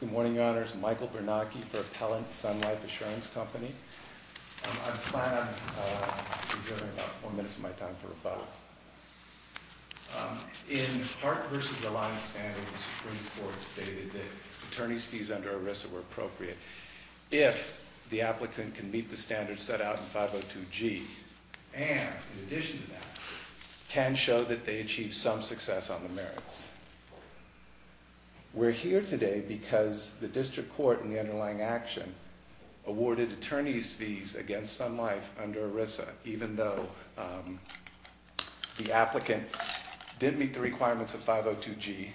Good morning, Your Honours. Michael Bernanke for Appellant Sun Life Assurance Company. I plan on preserving about four minutes of my time for rebuttal. In Hart v. Reliance Standards, the Supreme Court stated that attorney's fees under ERISA were appropriate if the applicant can meet the standards set out in 502G and, in addition to that, can show that they achieved some success on the merits. We're here today because the district court in the underlying action awarded attorney's fees against Sun Life under ERISA, even though the applicant didn't meet the requirements of 502G,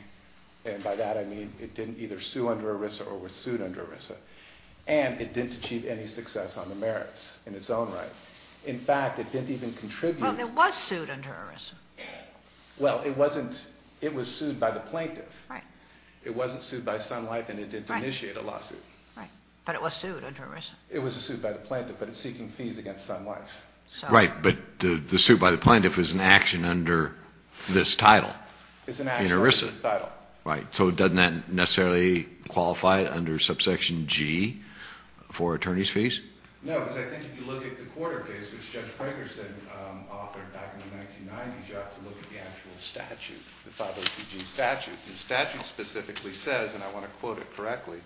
and by that I mean it didn't either sue under ERISA or was sued under ERISA, and it didn't achieve any success on the merits in its own right. In fact, it didn't even contribute... Well, it was sued under ERISA. Well, it was sued by the plaintiff. Right. It wasn't sued by Sun Life, and it didn't initiate a lawsuit. Right, but it was sued under ERISA. It was sued by the plaintiff, but it's seeking fees against Sun Life. Right, but the suit by the plaintiff is an action under this title. It's an action under this title. Right, so doesn't that necessarily qualify it under subsection G for attorney's fees? No, because I think if you look at the quarter case, which Judge Fragerson authored back in the 1990s, you have to look at the actual statute, the 502G statute. The statute specifically says, and I want to quote it correctly,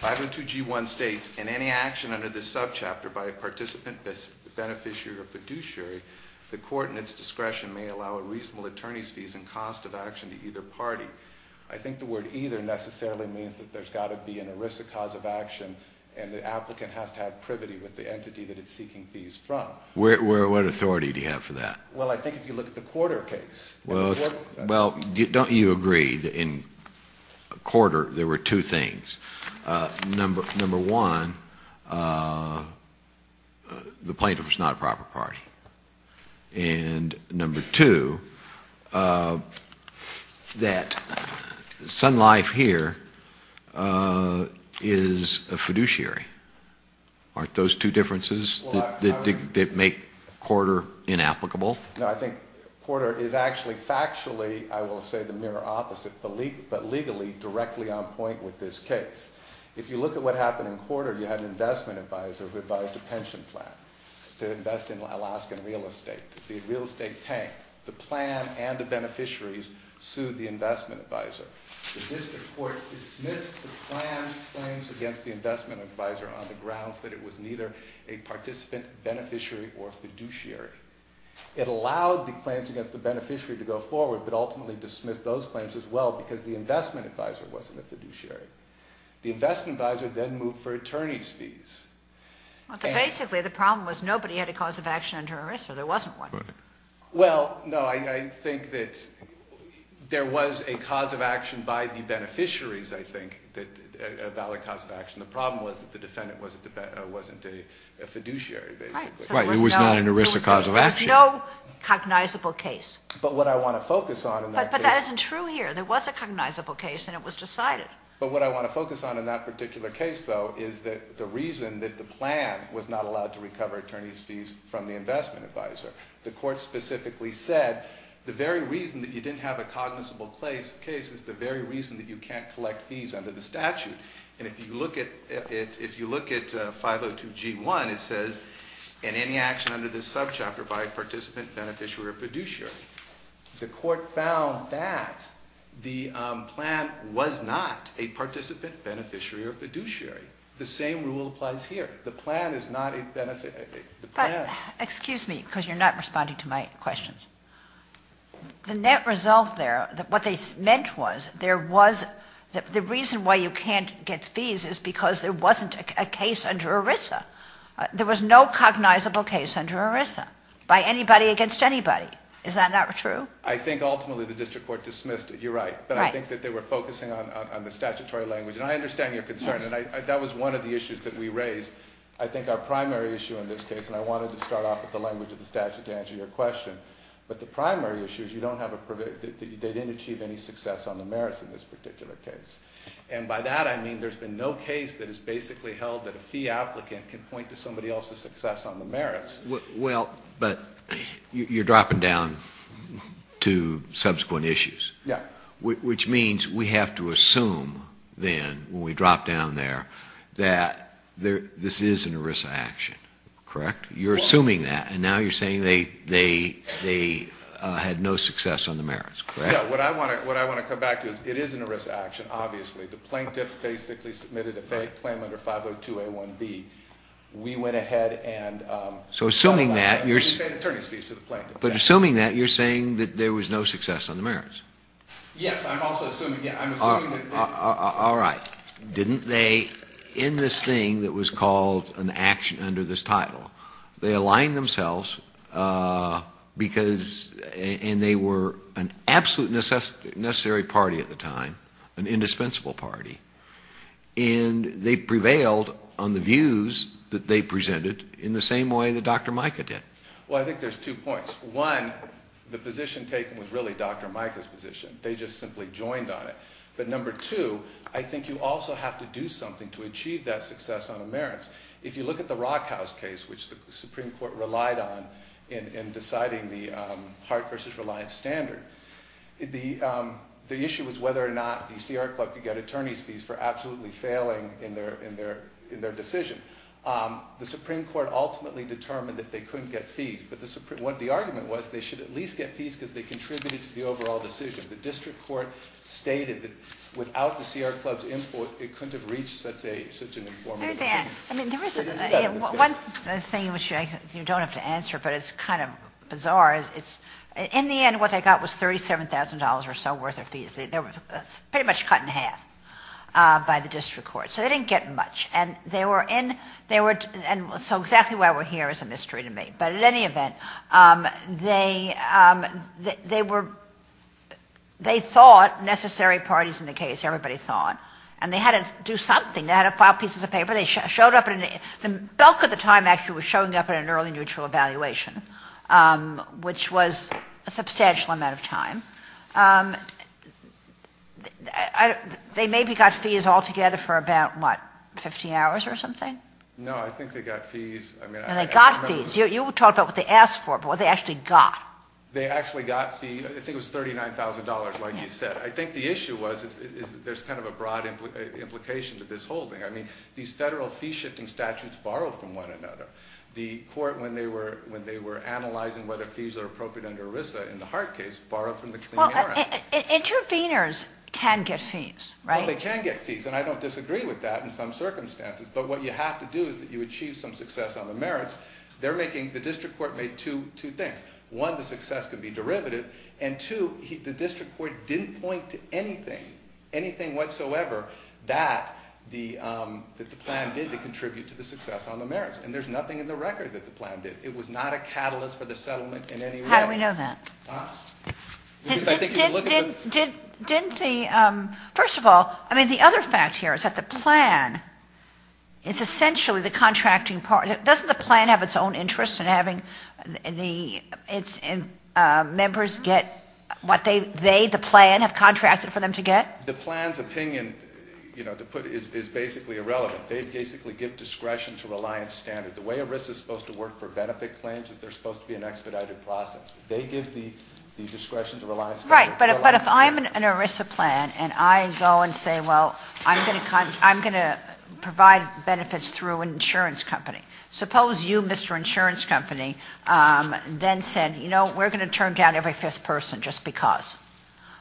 502G1 states, In any action under this subchapter by a participant, beneficiary, or fiduciary, the court in its discretion may allow a reasonable attorney's fees and cost of action to either party. I think the word either necessarily means that there's got to be an ERISA cause of action, and the applicant has to have privity with the entity that it's seeking fees from. What authority do you have for that? Well, I think if you look at the quarter case. Well, don't you agree that in quarter there were two things? Number one, the plaintiff was not a proper party. And number two, that Sun Life here is a fiduciary. Aren't those two differences that make quarter inapplicable? No, I think quarter is actually factually, I will say the mirror opposite, but legally directly on point with this case. If you look at what happened in quarter, you had an investment advisor who advised a pension plan to invest in Alaskan real estate, the real estate tank. The plan and the beneficiaries sued the investment advisor. The district court dismissed the plan's claims against the investment advisor on the grounds that it was neither a participant, beneficiary, or fiduciary. It allowed the claims against the beneficiary to go forward, but ultimately dismissed those claims as well because the investment advisor wasn't a fiduciary. The investment advisor then moved for attorney's fees. Well, so basically the problem was nobody had a cause of action under ERISA. There wasn't one. Well, no, I think that there was a cause of action by the beneficiaries, I think, a valid cause of action. The problem was that the defendant wasn't a fiduciary basically. Right. It was not an ERISA cause of action. There was no cognizable case. But what I want to focus on in that case. But that isn't true here. There was a cognizable case and it was decided. But what I want to focus on in that particular case, though, is that the reason that the plan was not allowed to recover attorney's fees from the investment advisor. The court specifically said the very reason that you didn't have a cognizable case is the very reason that you can't collect fees under the statute. And if you look at 502G1, it says, in any action under this subchapter by a participant, beneficiary, or fiduciary, the court found that the plan was not a participant, beneficiary, or fiduciary. The same rule applies here. The plan is not a beneficiary. Excuse me, because you're not responding to my questions. The net result there, what they meant was there was, the reason why you can't get fees is because there wasn't a case under ERISA. There was no cognizable case under ERISA by anybody against anybody. Is that not true? I think ultimately the district court dismissed it. You're right. But I think that they were focusing on the statutory language. And I understand your concern, and that was one of the issues that we raised. I think our primary issue in this case, and I wanted to start off with the language of the statute to answer your question, but the primary issue is you don't have a, they didn't achieve any success on the merits in this particular case. And by that I mean there's been no case that has basically held that a fee applicant can point to somebody else's success on the merits. Well, but you're dropping down to subsequent issues. Yeah. Which means we have to assume then, when we drop down there, that this is an ERISA action, correct? You're assuming that, and now you're saying they had no success on the merits, correct? Yeah. What I want to come back to is it is an ERISA action, obviously. The plaintiff basically submitted a fake claim under 502A1B. We went ahead and we paid attorney's fees to the plaintiff. But assuming that, you're saying that there was no success on the merits. Yes. I'm also assuming that. All right. Didn't they, in this thing that was called an action under this title, they aligned themselves because, and they were an absolute necessary party at the time, an indispensable party, and they prevailed on the views that they presented in the same way that Dr. Micah did. Well, I think there's two points. One, the position taken was really Dr. Micah's position. They just simply joined on it. But number two, I think you also have to do something to achieve that success on the merits. If you look at the Rockhouse case, which the Supreme Court relied on in deciding the Hart v. Reliance standard, the issue was whether or not the CR Club could get attorney's fees for absolutely failing in their decision. The Supreme Court ultimately determined that they couldn't get fees. But what the argument was, they should at least get fees because they contributed to the overall decision. The district court stated that without the CR Club's input, it couldn't have reached such an informative decision. One thing which you don't have to answer, but it's kind of bizarre, is in the end what they got was $37,000 or so worth of fees. They were pretty much cut in half by the district court. So they didn't get much. And so exactly why we're here is a mystery to me. But at any event, they thought necessary parties in the case, everybody thought, and they had to do something. They had to file pieces of paper. The bulk of the time actually was showing up in an early neutral evaluation, which was a substantial amount of time. They maybe got fees altogether for about, what, 15 hours or something? No, I think they got fees. And they got fees. You talked about what they asked for, but what they actually got. They actually got fees. I think it was $39,000, like you said. I think the issue was there's kind of a broad implication to this whole thing. I mean, these federal fee-shifting statutes borrow from one another. The court, when they were analyzing whether fees are appropriate under ERISA in the Hart case, borrowed from the Clean Air Act. Interveners can get fees, right? Well, they can get fees, and I don't disagree with that in some circumstances. But what you have to do is that you achieve some success on the merits. The district court made two things. One, the success could be derivative. And, two, the district court didn't point to anything, anything whatsoever, that the plan did to contribute to the success on the merits. And there's nothing in the record that the plan did. It was not a catalyst for the settlement in any way. How do we know that? Because I think if you look at the ‑‑ Didn't the ‑‑ first of all, I mean, the other fact here is that the plan is essentially the contracting part. Doesn't the plan have its own interests in having the members get what they, the plan, have contracted for them to get? The plan's opinion, you know, is basically irrelevant. They basically give discretion to reliance standard. The way ERISA is supposed to work for benefit claims is they're supposed to be an expedited process. They give the discretion to reliance standard. Right. But if I'm an ERISA plan and I go and say, well, I'm going to provide benefits through an insurance company, suppose you, Mr. Insurance Company, then said, you know, we're going to turn down every fifth person just because.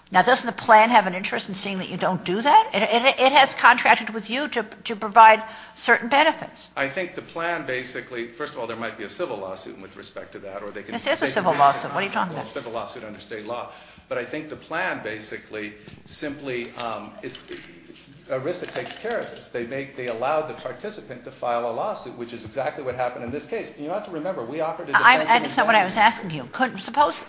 Now, doesn't the plan have an interest in seeing that you don't do that? It has contracted with you to provide certain benefits. I think the plan basically, first of all, there might be a civil lawsuit with respect to that. This is a civil lawsuit. What are you talking about? It's a civil lawsuit under state law. But I think the plan basically simply, ERISA takes care of this. They make, they allow the participant to file a lawsuit, which is exactly what happened in this case. You have to remember, we offered a defense in this case. I understand what I was asking you. Suppose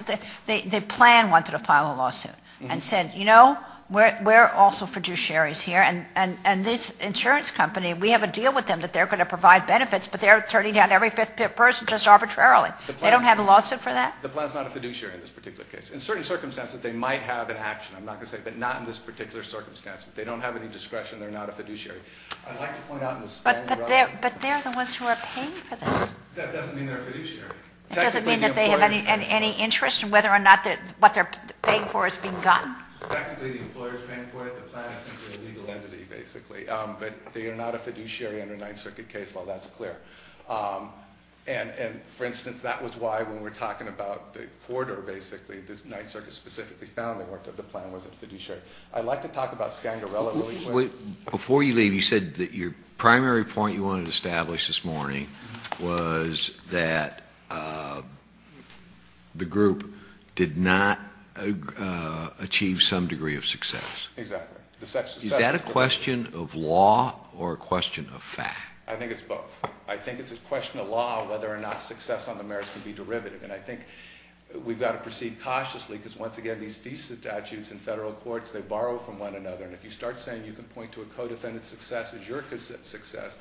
the plan wanted to file a lawsuit and said, you know, we're also fiduciaries here, and this insurance company, we have a deal with them that they're going to provide benefits, but they're turning down every fifth person just arbitrarily. They don't have a lawsuit for that? The plan is not a fiduciary in this particular case. In certain circumstances, they might have an action. I'm not going to say, but not in this particular circumstance. If they don't have any discretion, they're not a fiduciary. I'd like to point out in the spending run. But they're the ones who are paying for this. That doesn't mean they're a fiduciary. It doesn't mean that they have any interest in whether or not what they're paying for is being gotten? Technically, the employer is paying for it. The plan is simply a legal entity, basically. But they are not a fiduciary under a Ninth Circuit case. Well, that's clear. And, for instance, that was why when we were talking about the quarter, basically, the Ninth Circuit specifically found that the plan wasn't a fiduciary. I'd like to talk about Skangarello really quick. Before you leave, you said that your primary point you wanted to establish this morning was that the group did not achieve some degree of success. Exactly. Is that a question of law or a question of fact? I think it's both. I think it's a question of law whether or not success on the merits can be derivative. And I think we've got to proceed cautiously because, once again, these thesis statutes in federal courts, they borrow from one another. And if you start saying you can point to a co-defendant's success as your success,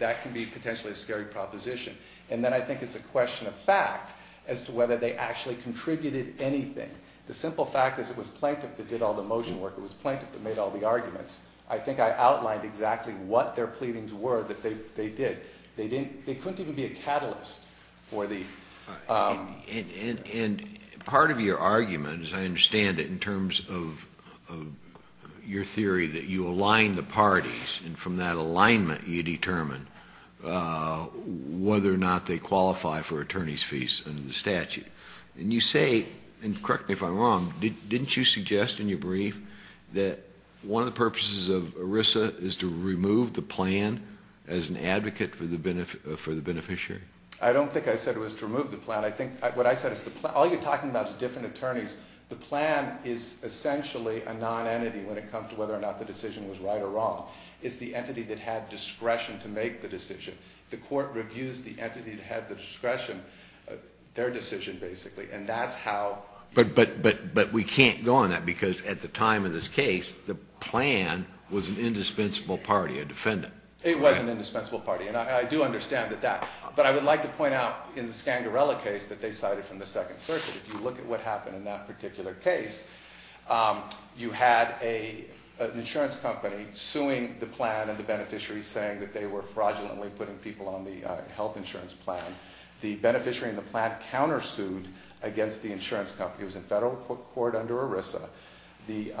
that can be potentially a scary proposition. And then I think it's a question of fact as to whether they actually contributed anything. The simple fact is it was plaintiff that did all the motion work. It was plaintiff that made all the arguments. I think I outlined exactly what their pleadings were that they did. They couldn't even be a catalyst for the. And part of your argument, as I understand it, in terms of your theory that you align the parties, and from that alignment you determine whether or not they qualify for attorney's fees under the statute. And you say, and correct me if I'm wrong, didn't you suggest in your brief that one of the purposes of ERISA is to remove the plan as an advocate for the beneficiary? I don't think I said it was to remove the plan. I think what I said is the plan. All you're talking about is different attorneys. The plan is essentially a non-entity when it comes to whether or not the decision was right or wrong. It's the entity that had discretion to make the decision. The court reviews the entity that had the discretion, their decision basically, and that's how. But we can't go on that because at the time of this case, the plan was an indispensable party, a defendant. It was an indispensable party, and I do understand that. But I would like to point out in the Scandarella case that they cited from the Second Circuit, if you look at what happened in that particular case, you had an insurance company suing the plan and the beneficiaries, saying that they were fraudulently putting people on the health insurance plan. The beneficiary in the plan countersued against the insurance company. It was in federal court under ERISA. The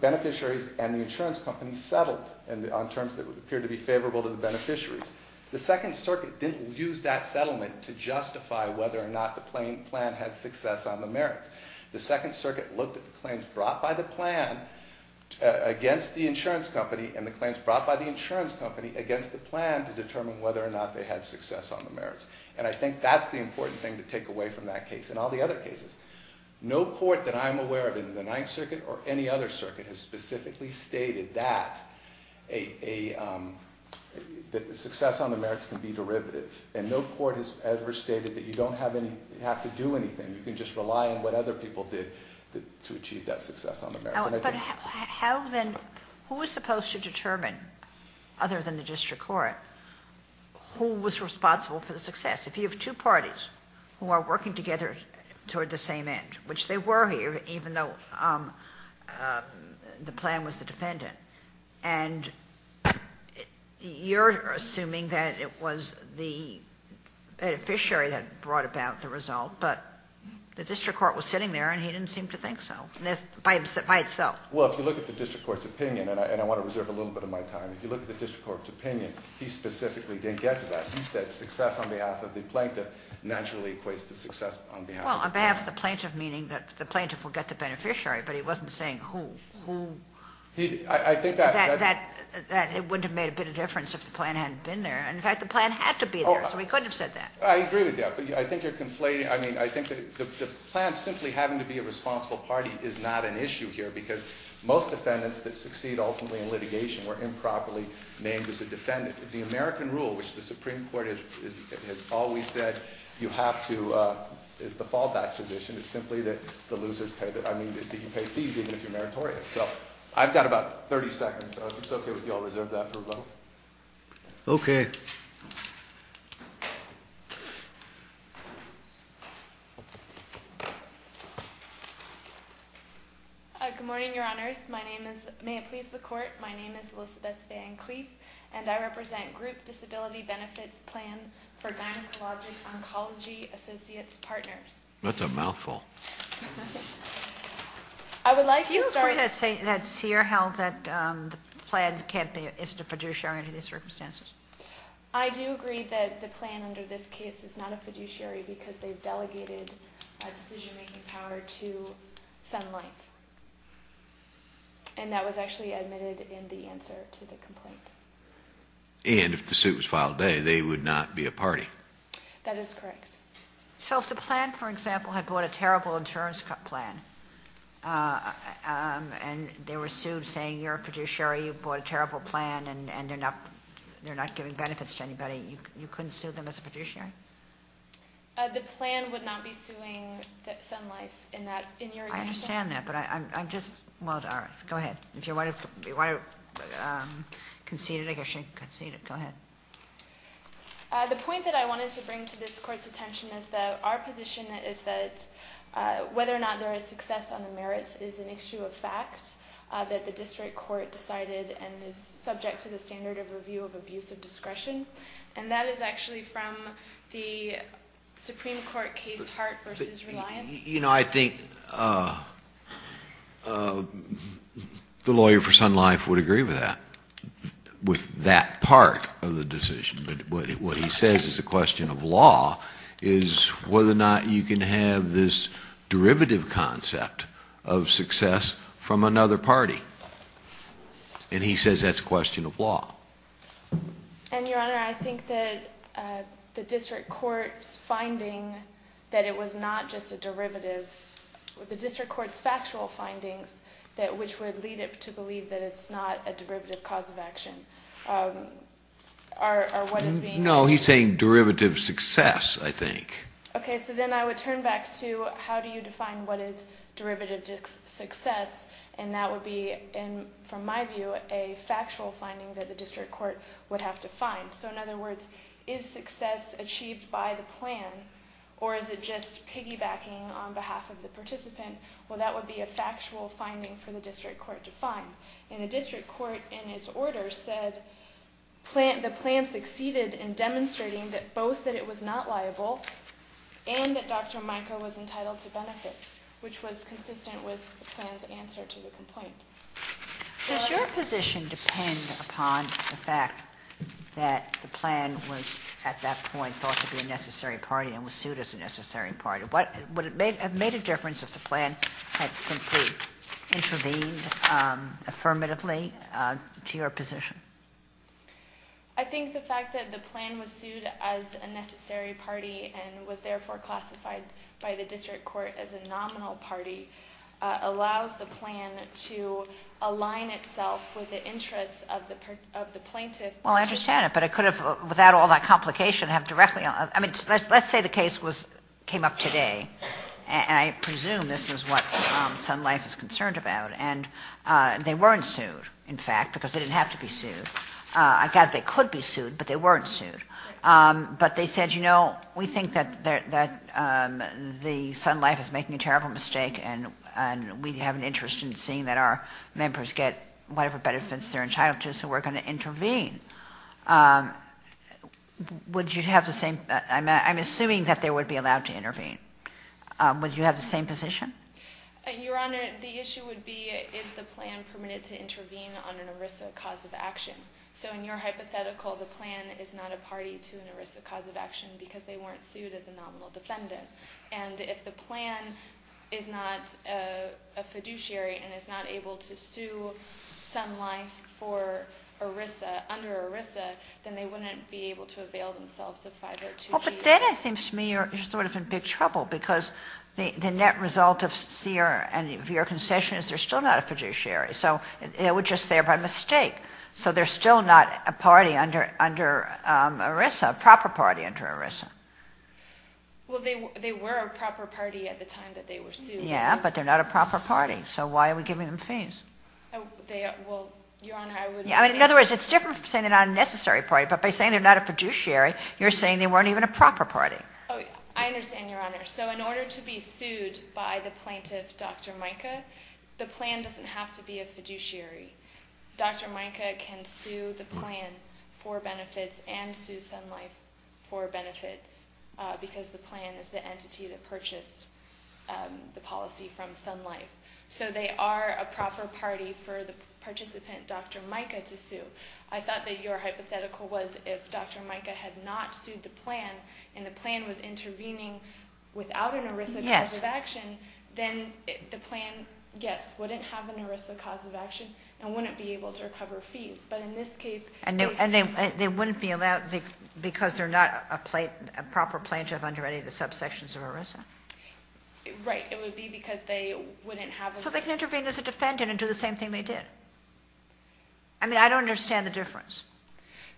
beneficiaries and the insurance company settled on terms that appeared to be favorable to the beneficiaries. The Second Circuit didn't use that settlement to justify whether or not the plan had success on the merits. The Second Circuit looked at the claims brought by the plan against the insurance company and the claims brought by the insurance company against the plan to determine whether or not they had success on the merits. And I think that's the important thing to take away from that case and all the other cases. No court that I'm aware of in the Ninth Circuit or any other circuit has specifically stated that success on the merits can be derivative. And no court has ever stated that you don't have to do anything. You can just rely on what other people did to achieve that success on the merits. But how then, who was supposed to determine, other than the district court, who was responsible for the success? If you have two parties who are working together toward the same end, which they were here even though the plan was the defendant, and you're assuming that it was the beneficiary that brought about the result, but the district court was sitting there and he didn't seem to think so by itself. Well, if you look at the district court's opinion, and I want to reserve a little bit of my time, if you look at the district court's opinion, he specifically didn't get to that. He said success on behalf of the plaintiff naturally equates to success on behalf of the plaintiff. Well, on behalf of the plaintiff, meaning that the plaintiff will get the beneficiary, but he wasn't saying who. I think that... That it wouldn't have made a bit of difference if the plan hadn't been there. In fact, the plan had to be there, so he couldn't have said that. I agree with that, but I think you're conflating... I mean, I think that the plan simply having to be a responsible party is not an issue here because most defendants that succeed ultimately in litigation were improperly named as a defendant. The American rule, which the Supreme Court has always said you have to... is the fallback position, is simply that the losers pay the... I mean, that you pay fees even if you're meritorious. So, I've got about 30 seconds, so if it's okay with you, I'll reserve that for a vote. Okay. Good morning, Your Honours. May it please the Court, my name is Elizabeth Van Cleef and I represent Group Disability Benefits Plan for Gynecologic Oncology Associates Partners. That's a mouthful. I would like to start... You said Sear held that the plan can't be a fiduciary under these circumstances. I do agree that the plan under this case is not a fiduciary because they've delegated a decision-making power to Sun Life. And that was actually admitted in the answer to the complaint. And if the suit was filed today, they would not be a party. That is correct. So, if the plan, for example, had brought a terrible insurance plan and they were sued saying you're a fiduciary, you brought a terrible plan and they're not giving benefits to anybody, you couldn't sue them as a fiduciary? The plan would not be suing Sun Life in that... I understand that, but I'm just... Well, all right, go ahead. If you want to concede it, I guess you can concede it. Go ahead. The point that I wanted to bring to this Court's attention is that our position is that whether or not there is success on the merits is an issue of fact that the district court decided and is subject to the standard of review of abuse of discretion. And that is actually from the Supreme Court case Hart v. Reliant. You know, I think the lawyer for Sun Life would agree with that, with that part of the decision. But what he says is a question of law, is whether or not you can have this derivative concept of success from another party. And he says that's a question of law. And, Your Honor, I think that the district court's finding that it was not just a derivative, the district court's factual findings which would lead it to believe that it's not a derivative cause of action are what is being... No, he's saying derivative success, I think. Okay, so then I would turn back to how do you define what is derivative success. And that would be, from my view, a factual finding that the district court would have to find. So, in other words, is success achieved by the plan or is it just piggybacking on behalf of the participant? Well, that would be a factual finding for the district court to find. And the district court, in its order, said the plan succeeded in demonstrating both that it was not liable and that Dr. Micah was entitled to benefits, which was consistent with the plan's answer to the complaint. Does your position depend upon the fact that the plan was, at that point, thought to be a necessary party and was sued as a necessary party? Would it have made a difference if the plan had simply intervened affirmatively to your position? I think the fact that the plan was sued as a necessary party and was therefore classified by the district court as a nominal party allows the plan to align itself with the interests of the plaintiff. Well, I understand it, but I could have, without all that complication, have directly, I mean, let's say the case came up today and I presume this is what Sun Life is concerned about and they weren't sued, in fact, because they didn't have to be sued. I guess they could be sued, but they weren't sued. But they said, you know, we think that the Sun Life is making a terrible mistake and we have an interest in seeing that our members get whatever benefits they're entitled to, so we're going to intervene. Would you have the same, I'm assuming that they would be allowed to intervene. Would you have the same position? Your Honor, the issue would be, is the plan permitted to intervene on an ERISA cause of action? So in your hypothetical, the plan is not a party to an ERISA cause of action because they weren't sued as a nominal defendant. And if the plan is not a fiduciary and is not able to sue Sun Life for ERISA under ERISA, then they wouldn't be able to avail themselves of five or two fees. But then it seems to me you're sort of in big trouble because the net result of your concession is they're still not a fiduciary. So they were just there by mistake. So they're still not a party under ERISA, a proper party under ERISA. Well, they were a proper party at the time that they were sued. Yeah, but they're not a proper party, so why are we giving them fees? In other words, it's different from saying they're not a necessary party, but by saying they're not a fiduciary, you're saying they weren't even a proper party. I understand, Your Honor. So in order to be sued by the plaintiff, Dr. Mica, the plan doesn't have to be a fiduciary. Dr. Mica can sue the plan for benefits and sue Sun Life for benefits because the plan is the entity that purchased the policy from Sun Life. So they are a proper party for the participant, Dr. Mica, to sue. I thought that your hypothetical was if Dr. Mica had not sued the plan and the plan was intervening without an ERISA cause of action, then the plan, yes, wouldn't have an ERISA cause of action and wouldn't be able to recover fees. But in this case... And they wouldn't be allowed because they're not a proper plaintiff under any of the subsections of ERISA. Right. It would be because they wouldn't have a... So they can intervene as a defendant and do the same thing they did. I mean, I don't understand the difference.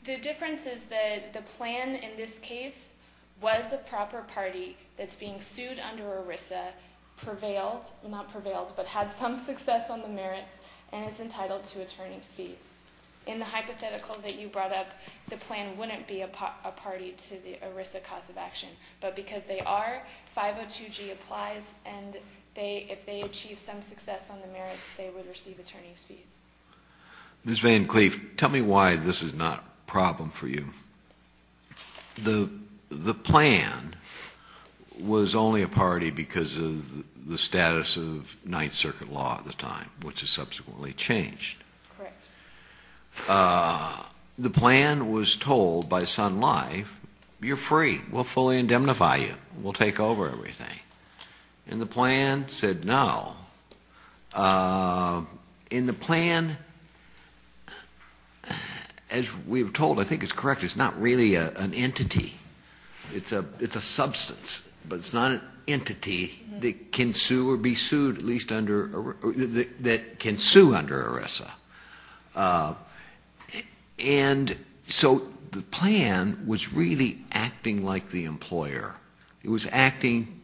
The difference is that the plan in this case was a proper party that's being sued under ERISA, prevailed, not prevailed, but had some success on the merits and is entitled to attorney's fees. In the hypothetical that you brought up, the plan wouldn't be a party to the ERISA cause of action, but because they are, 502G applies, and if they achieve some success on the merits, they would receive attorney's fees. Ms. Van Cleef, tell me why this is not a problem for you. The plan was only a party because of the status of Ninth Circuit law at the time, which has subsequently changed. Correct. The plan was told by Sun Life, you're free, we'll fully indemnify you, we'll take over everything. And the plan said no. And the plan, as we were told, I think it's correct, it's not really an entity, it's a substance, but it's not an entity that can sue or be sued at least under... that can sue under ERISA. And so the plan was really acting like the employer. It was acting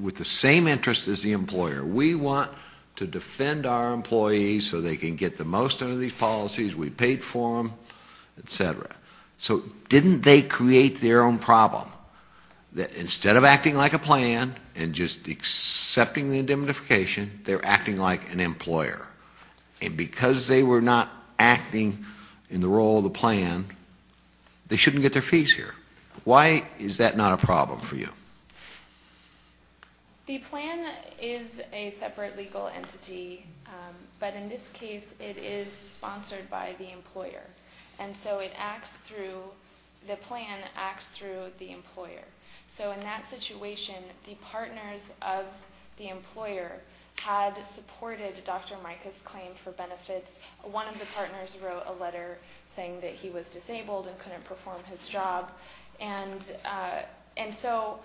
with the same interest as the employer. We want to defend our employees so they can get the most out of these policies, we paid for them, etc. So didn't they create their own problem? Instead of acting like a plan and just accepting the indemnification, they're acting like an employer. And because they were not acting in the role of the plan, they shouldn't get their fees here. Why is that not a problem for you? The plan is a separate legal entity, but in this case it is sponsored by the employer. And so it acts through... the plan acts through the employer. So in that situation, the partners of the employer had supported Dr. Micah's claim for benefits. One of the partners wrote a letter saying that he was disabled and couldn't perform his job. And so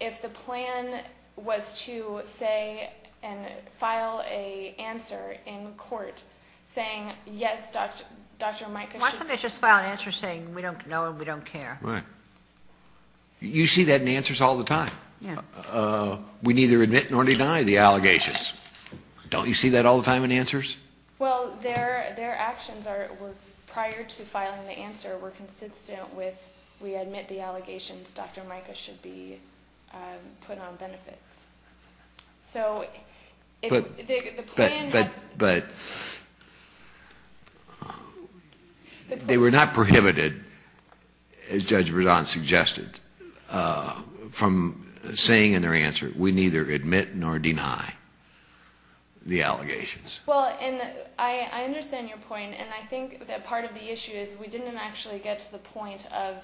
if the plan was to say and file an answer in court saying, yes, Dr. Micah should... Why couldn't they just file an answer saying, we don't know and we don't care? You see that in answers all the time. We neither admit nor deny the allegations. Don't you see that all the time in answers? Well, their actions prior to filing the answer were consistent with we admit the allegations Dr. Micah should be put on benefits. So the plan... But they were not prohibited, as Judge Berzon suggested, from saying in their answer, we neither admit nor deny the allegations. Well, and I understand your point, and I think that part of the issue is we didn't actually get to the point of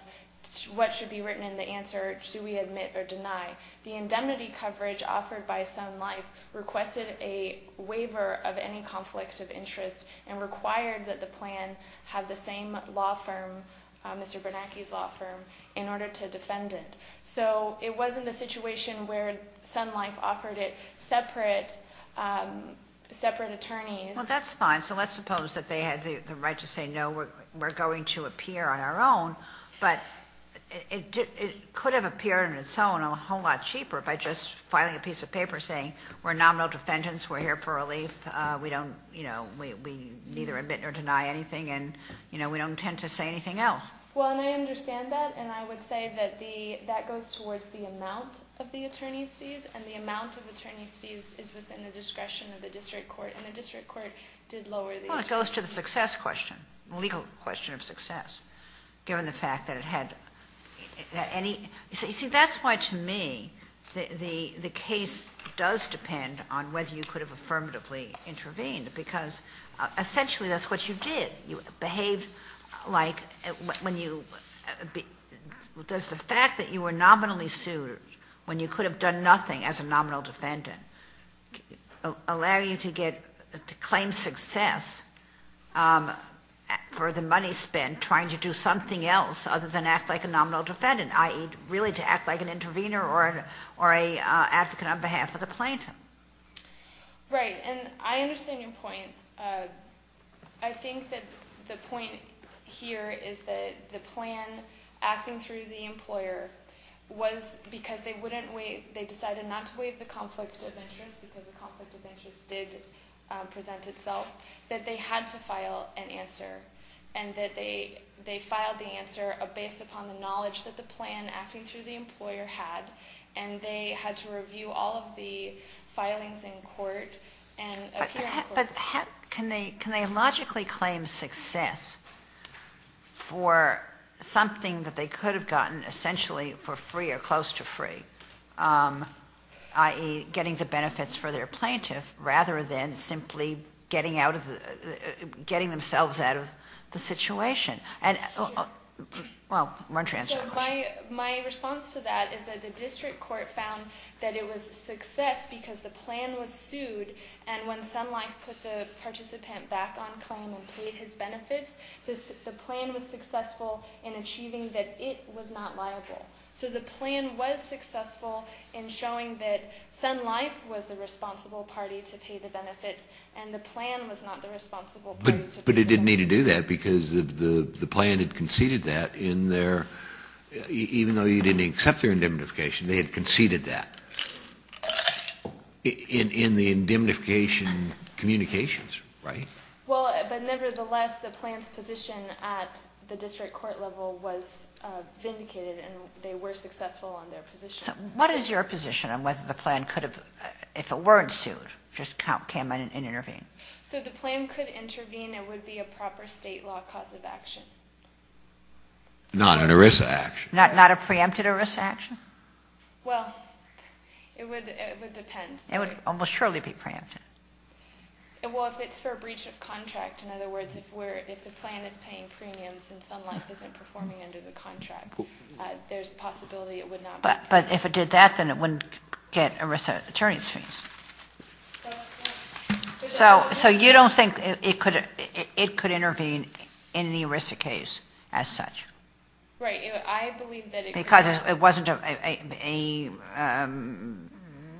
what should be written in the answer, do we admit or deny. The indemnity coverage offered by Sun Life requested a waiver of any conflict of interest and required that the plan have the same law firm, Mr. Bernanke's law firm, in order to defend it. So it wasn't a situation where Sun Life offered it separate attorneys. Well, that's fine. So let's suppose that they had the right to say, no, we're going to appear on our own, but it could have appeared on its own a whole lot cheaper by just filing a piece of paper saying, we're nominal defendants, we're here for relief, we neither admit nor deny anything, and we don't intend to say anything else. Well, and I understand that, and I would say that that goes towards the amount of the attorney's fees, and the amount of attorney's fees is within the discretion of the district court, and the district court did lower the attorney's fees. Well, it goes to the success question, the legal question of success, given the fact that it had any... You see, that's why, to me, the case does depend on whether you could have affirmatively intervened, because, essentially, that's what you did. You behaved like... Does the fact that you were nominally sued, when you could have done nothing as a nominal defendant, allow you to claim success for the money spent trying to do something else other than act like a nominal defendant, i.e., really to act like an intervener or an advocate on behalf of the plaintiff? Right, and I understand your point. I think that the point here is that the plan acting through the employer was because they decided not to waive the conflict of interest, because the conflict of interest did present itself, that they had to file an answer, and that they filed the answer based upon the knowledge that the plan acting through the employer had, and they had to review all of the filings in court. But can they logically claim success for something that they could have gotten, essentially, for free or close to free, i.e., getting the benefits for their plaintiff, rather than simply getting themselves out of the situation? Well, why don't you answer that question? My response to that is that the district court found that it was a success because the plan was sued, and when Sun Life put the participant back on claim and paid his benefits, the plan was successful in achieving that it was not liable. So the plan was successful in showing that Sun Life was the responsible party to pay the benefits, and the plan was not the responsible party to pay them. But it didn't need to do that, because the plan had conceded that in their, even though you didn't accept their indemnification, they had conceded that in the indemnification communications, right? Well, but nevertheless, the plan's position at the district court level was vindicated, and they were successful on their position. So what is your position on whether the plan could have, if it weren't sued, just came in and intervened? So the plan could intervene. It would be a proper state law cause of action. Not an ERISA action. Not a preempted ERISA action? Well, it would depend. It would almost surely be preempted. Well, if it's for a breach of contract. In other words, if the plan is paying premiums and Sun Life isn't performing under the contract, there's a possibility it would not be preempted. But if it did that, then it wouldn't get ERISA attorney's fees. So you don't think it could intervene in the ERISA case as such? Right. I believe that it could. Because it wasn't a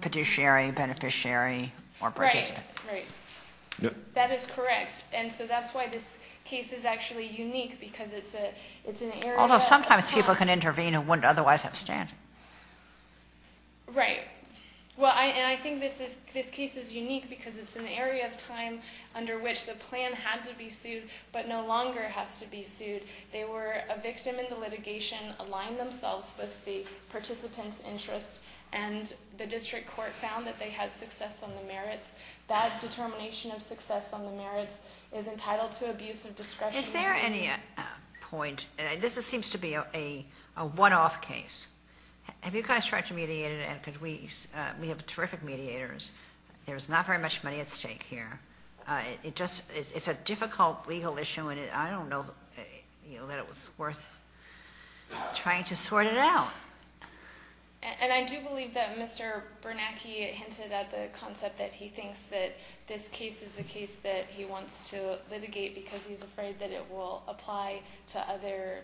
petitiary, beneficiary, or participant? Right. Right. That is correct. And so that's why this case is actually unique, because it's an area that... Although sometimes people can intervene and wouldn't otherwise have a stand. Right. Right. Well, and I think this case is unique because it's an area of time under which the plan had to be sued but no longer has to be sued. They were a victim in the litigation, aligned themselves with the participant's interest, and the district court found that they had success on the merits. That determination of success on the merits is entitled to abuse of discretion. Is there any point... This seems to be a one-off case. Have you guys tried to mediate it? We have terrific mediators. There's not very much money at stake here. It's a difficult legal issue, and I don't know that it was worth trying to sort it out. And I do believe that Mr. Bernanke hinted at the concept that he thinks that this case is a case that he wants to litigate because he's afraid that it will apply to other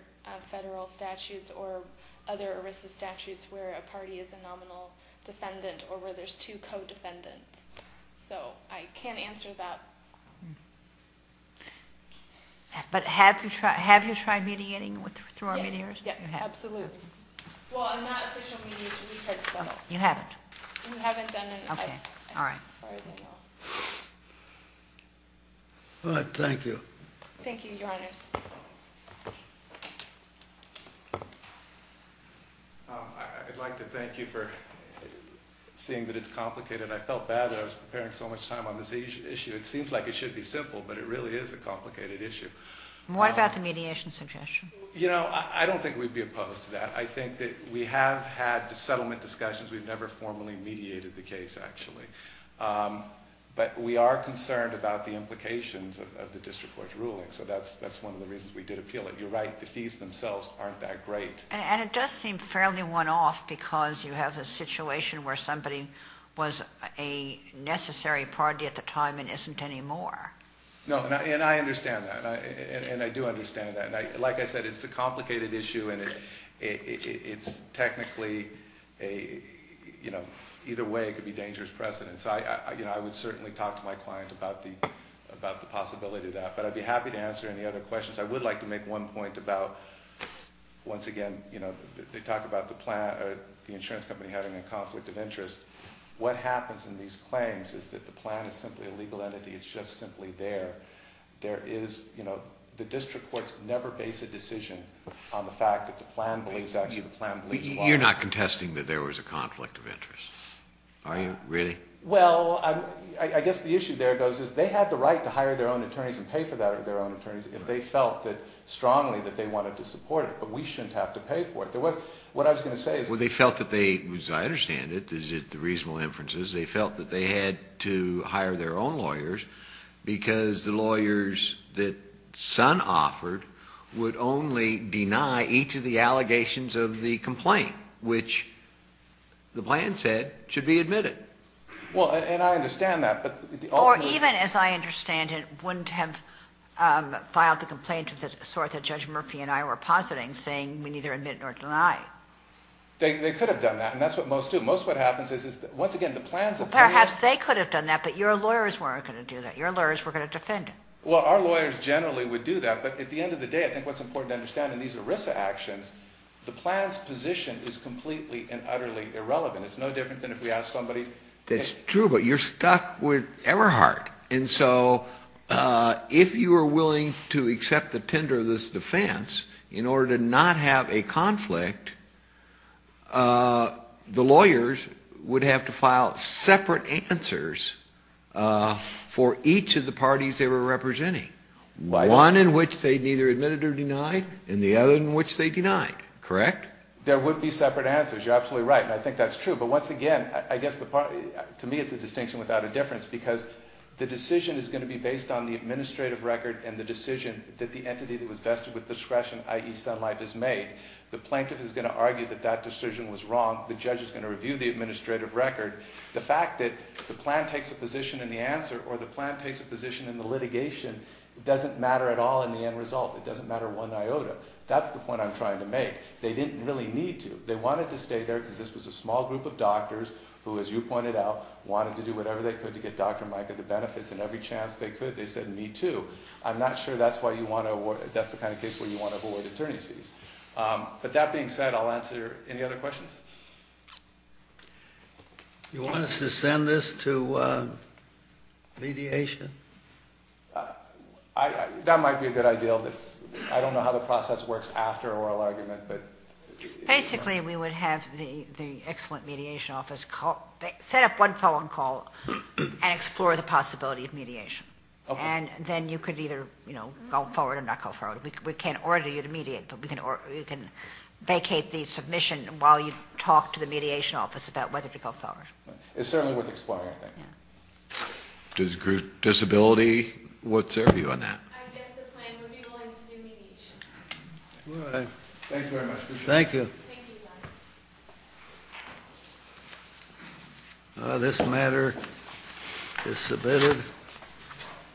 federal statutes or other ERISA statutes where a party is a nominal defendant or where there's two co-defendants. So I can't answer that. But have you tried mediating through our mediators? Yes, yes, absolutely. Well, I'm not an official mediator. We've tried to settle. You haven't? We haven't done anything. All right. All right, thank you. Thank you, Your Honors. I'd like to thank you for seeing that it's complicated. I felt bad that I was preparing so much time on this issue. It seems like it should be simple, but it really is a complicated issue. What about the mediation suggestion? You know, I don't think we'd be opposed to that. I think that we have had settlement discussions. We've never formally mediated the case, actually. But we are concerned about the implications of the district court's ruling, so that's one of the reasons we did appeal it. But you're right, the fees themselves aren't that great. And it does seem fairly one-off because you have a situation where somebody was a necessary party at the time and isn't anymore. No, and I understand that. And I do understand that. Like I said, it's a complicated issue, and it's technically a, you know, either way it could be dangerous precedent. So I would certainly talk to my client about the possibility of that. But I'd be happy to answer any other questions. I would like to make one point about, once again, you know, they talk about the insurance company having a conflict of interest. What happens in these claims is that the plan is simply a legal entity. It's just simply there. There is, you know, the district courts never base a decision on the fact that the plan believes actually the plan believes law. You're not contesting that there was a conflict of interest, are you? Really? Well, I guess the issue there goes is they had the right to hire their own attorneys and pay for that with their own attorneys if they felt strongly that they wanted to support it. But we shouldn't have to pay for it. What I was going to say is they felt that they, as I understand it, is it the reasonable inferences, they felt that they had to hire their own lawyers because the lawyers that Sun offered would only deny each of the allegations of the complaint, which the plan said should be admitted. Well, and I understand that. Or even, as I understand it, wouldn't have filed the complaint of the sort that Judge Murphy and I were positing, saying we neither admit nor deny. They could have done that, and that's what most do. Most of what happens is, once again, the plan's opinion – Well, perhaps they could have done that, but your lawyers weren't going to do that. Your lawyers were going to defend it. Well, our lawyers generally would do that, but at the end of the day, I think what's important to understand in these ERISA actions, the plan's position is completely and utterly irrelevant. It's no different than if we ask somebody – That's true, but you're stuck with Everhart. And so if you were willing to accept the tender of this defense, in order to not have a conflict, the lawyers would have to file separate answers for each of the parties they were representing. One in which they neither admitted nor denied, and the other in which they denied. Correct? There would be separate answers. You're absolutely right, and I think that's true. But once again, I guess to me it's a distinction without a difference, because the decision is going to be based on the administrative record and the decision that the entity that was vested with discretion, i.e. Sun Life, has made. The plaintiff is going to argue that that decision was wrong. The judge is going to review the administrative record. The fact that the plan takes a position in the answer, or the plan takes a position in the litigation, doesn't matter at all in the end result. It doesn't matter one iota. That's the point I'm trying to make. They didn't really need to. They wanted to stay there because this was a small group of doctors who, as you pointed out, wanted to do whatever they could to get Dr. Micah the benefits, and every chance they could they said, me too. I'm not sure that's the kind of case where you want to award attorneys fees. But that being said, I'll answer any other questions. You want us to send this to mediation? That might be a good idea. I don't know how the process works after an oral argument. Basically, we would have the excellent mediation office set up one phone call and explore the possibility of mediation. Then you could either go forward or not go forward. We can't order you to mediate, but we can vacate the submission while you talk to the mediation office about whether to go forward. It's certainly worth exploring, I think. Disability, what's your view on that? I guess the plan would be willing to do mediation. Thank you very much. Thank you. This matter is submitted.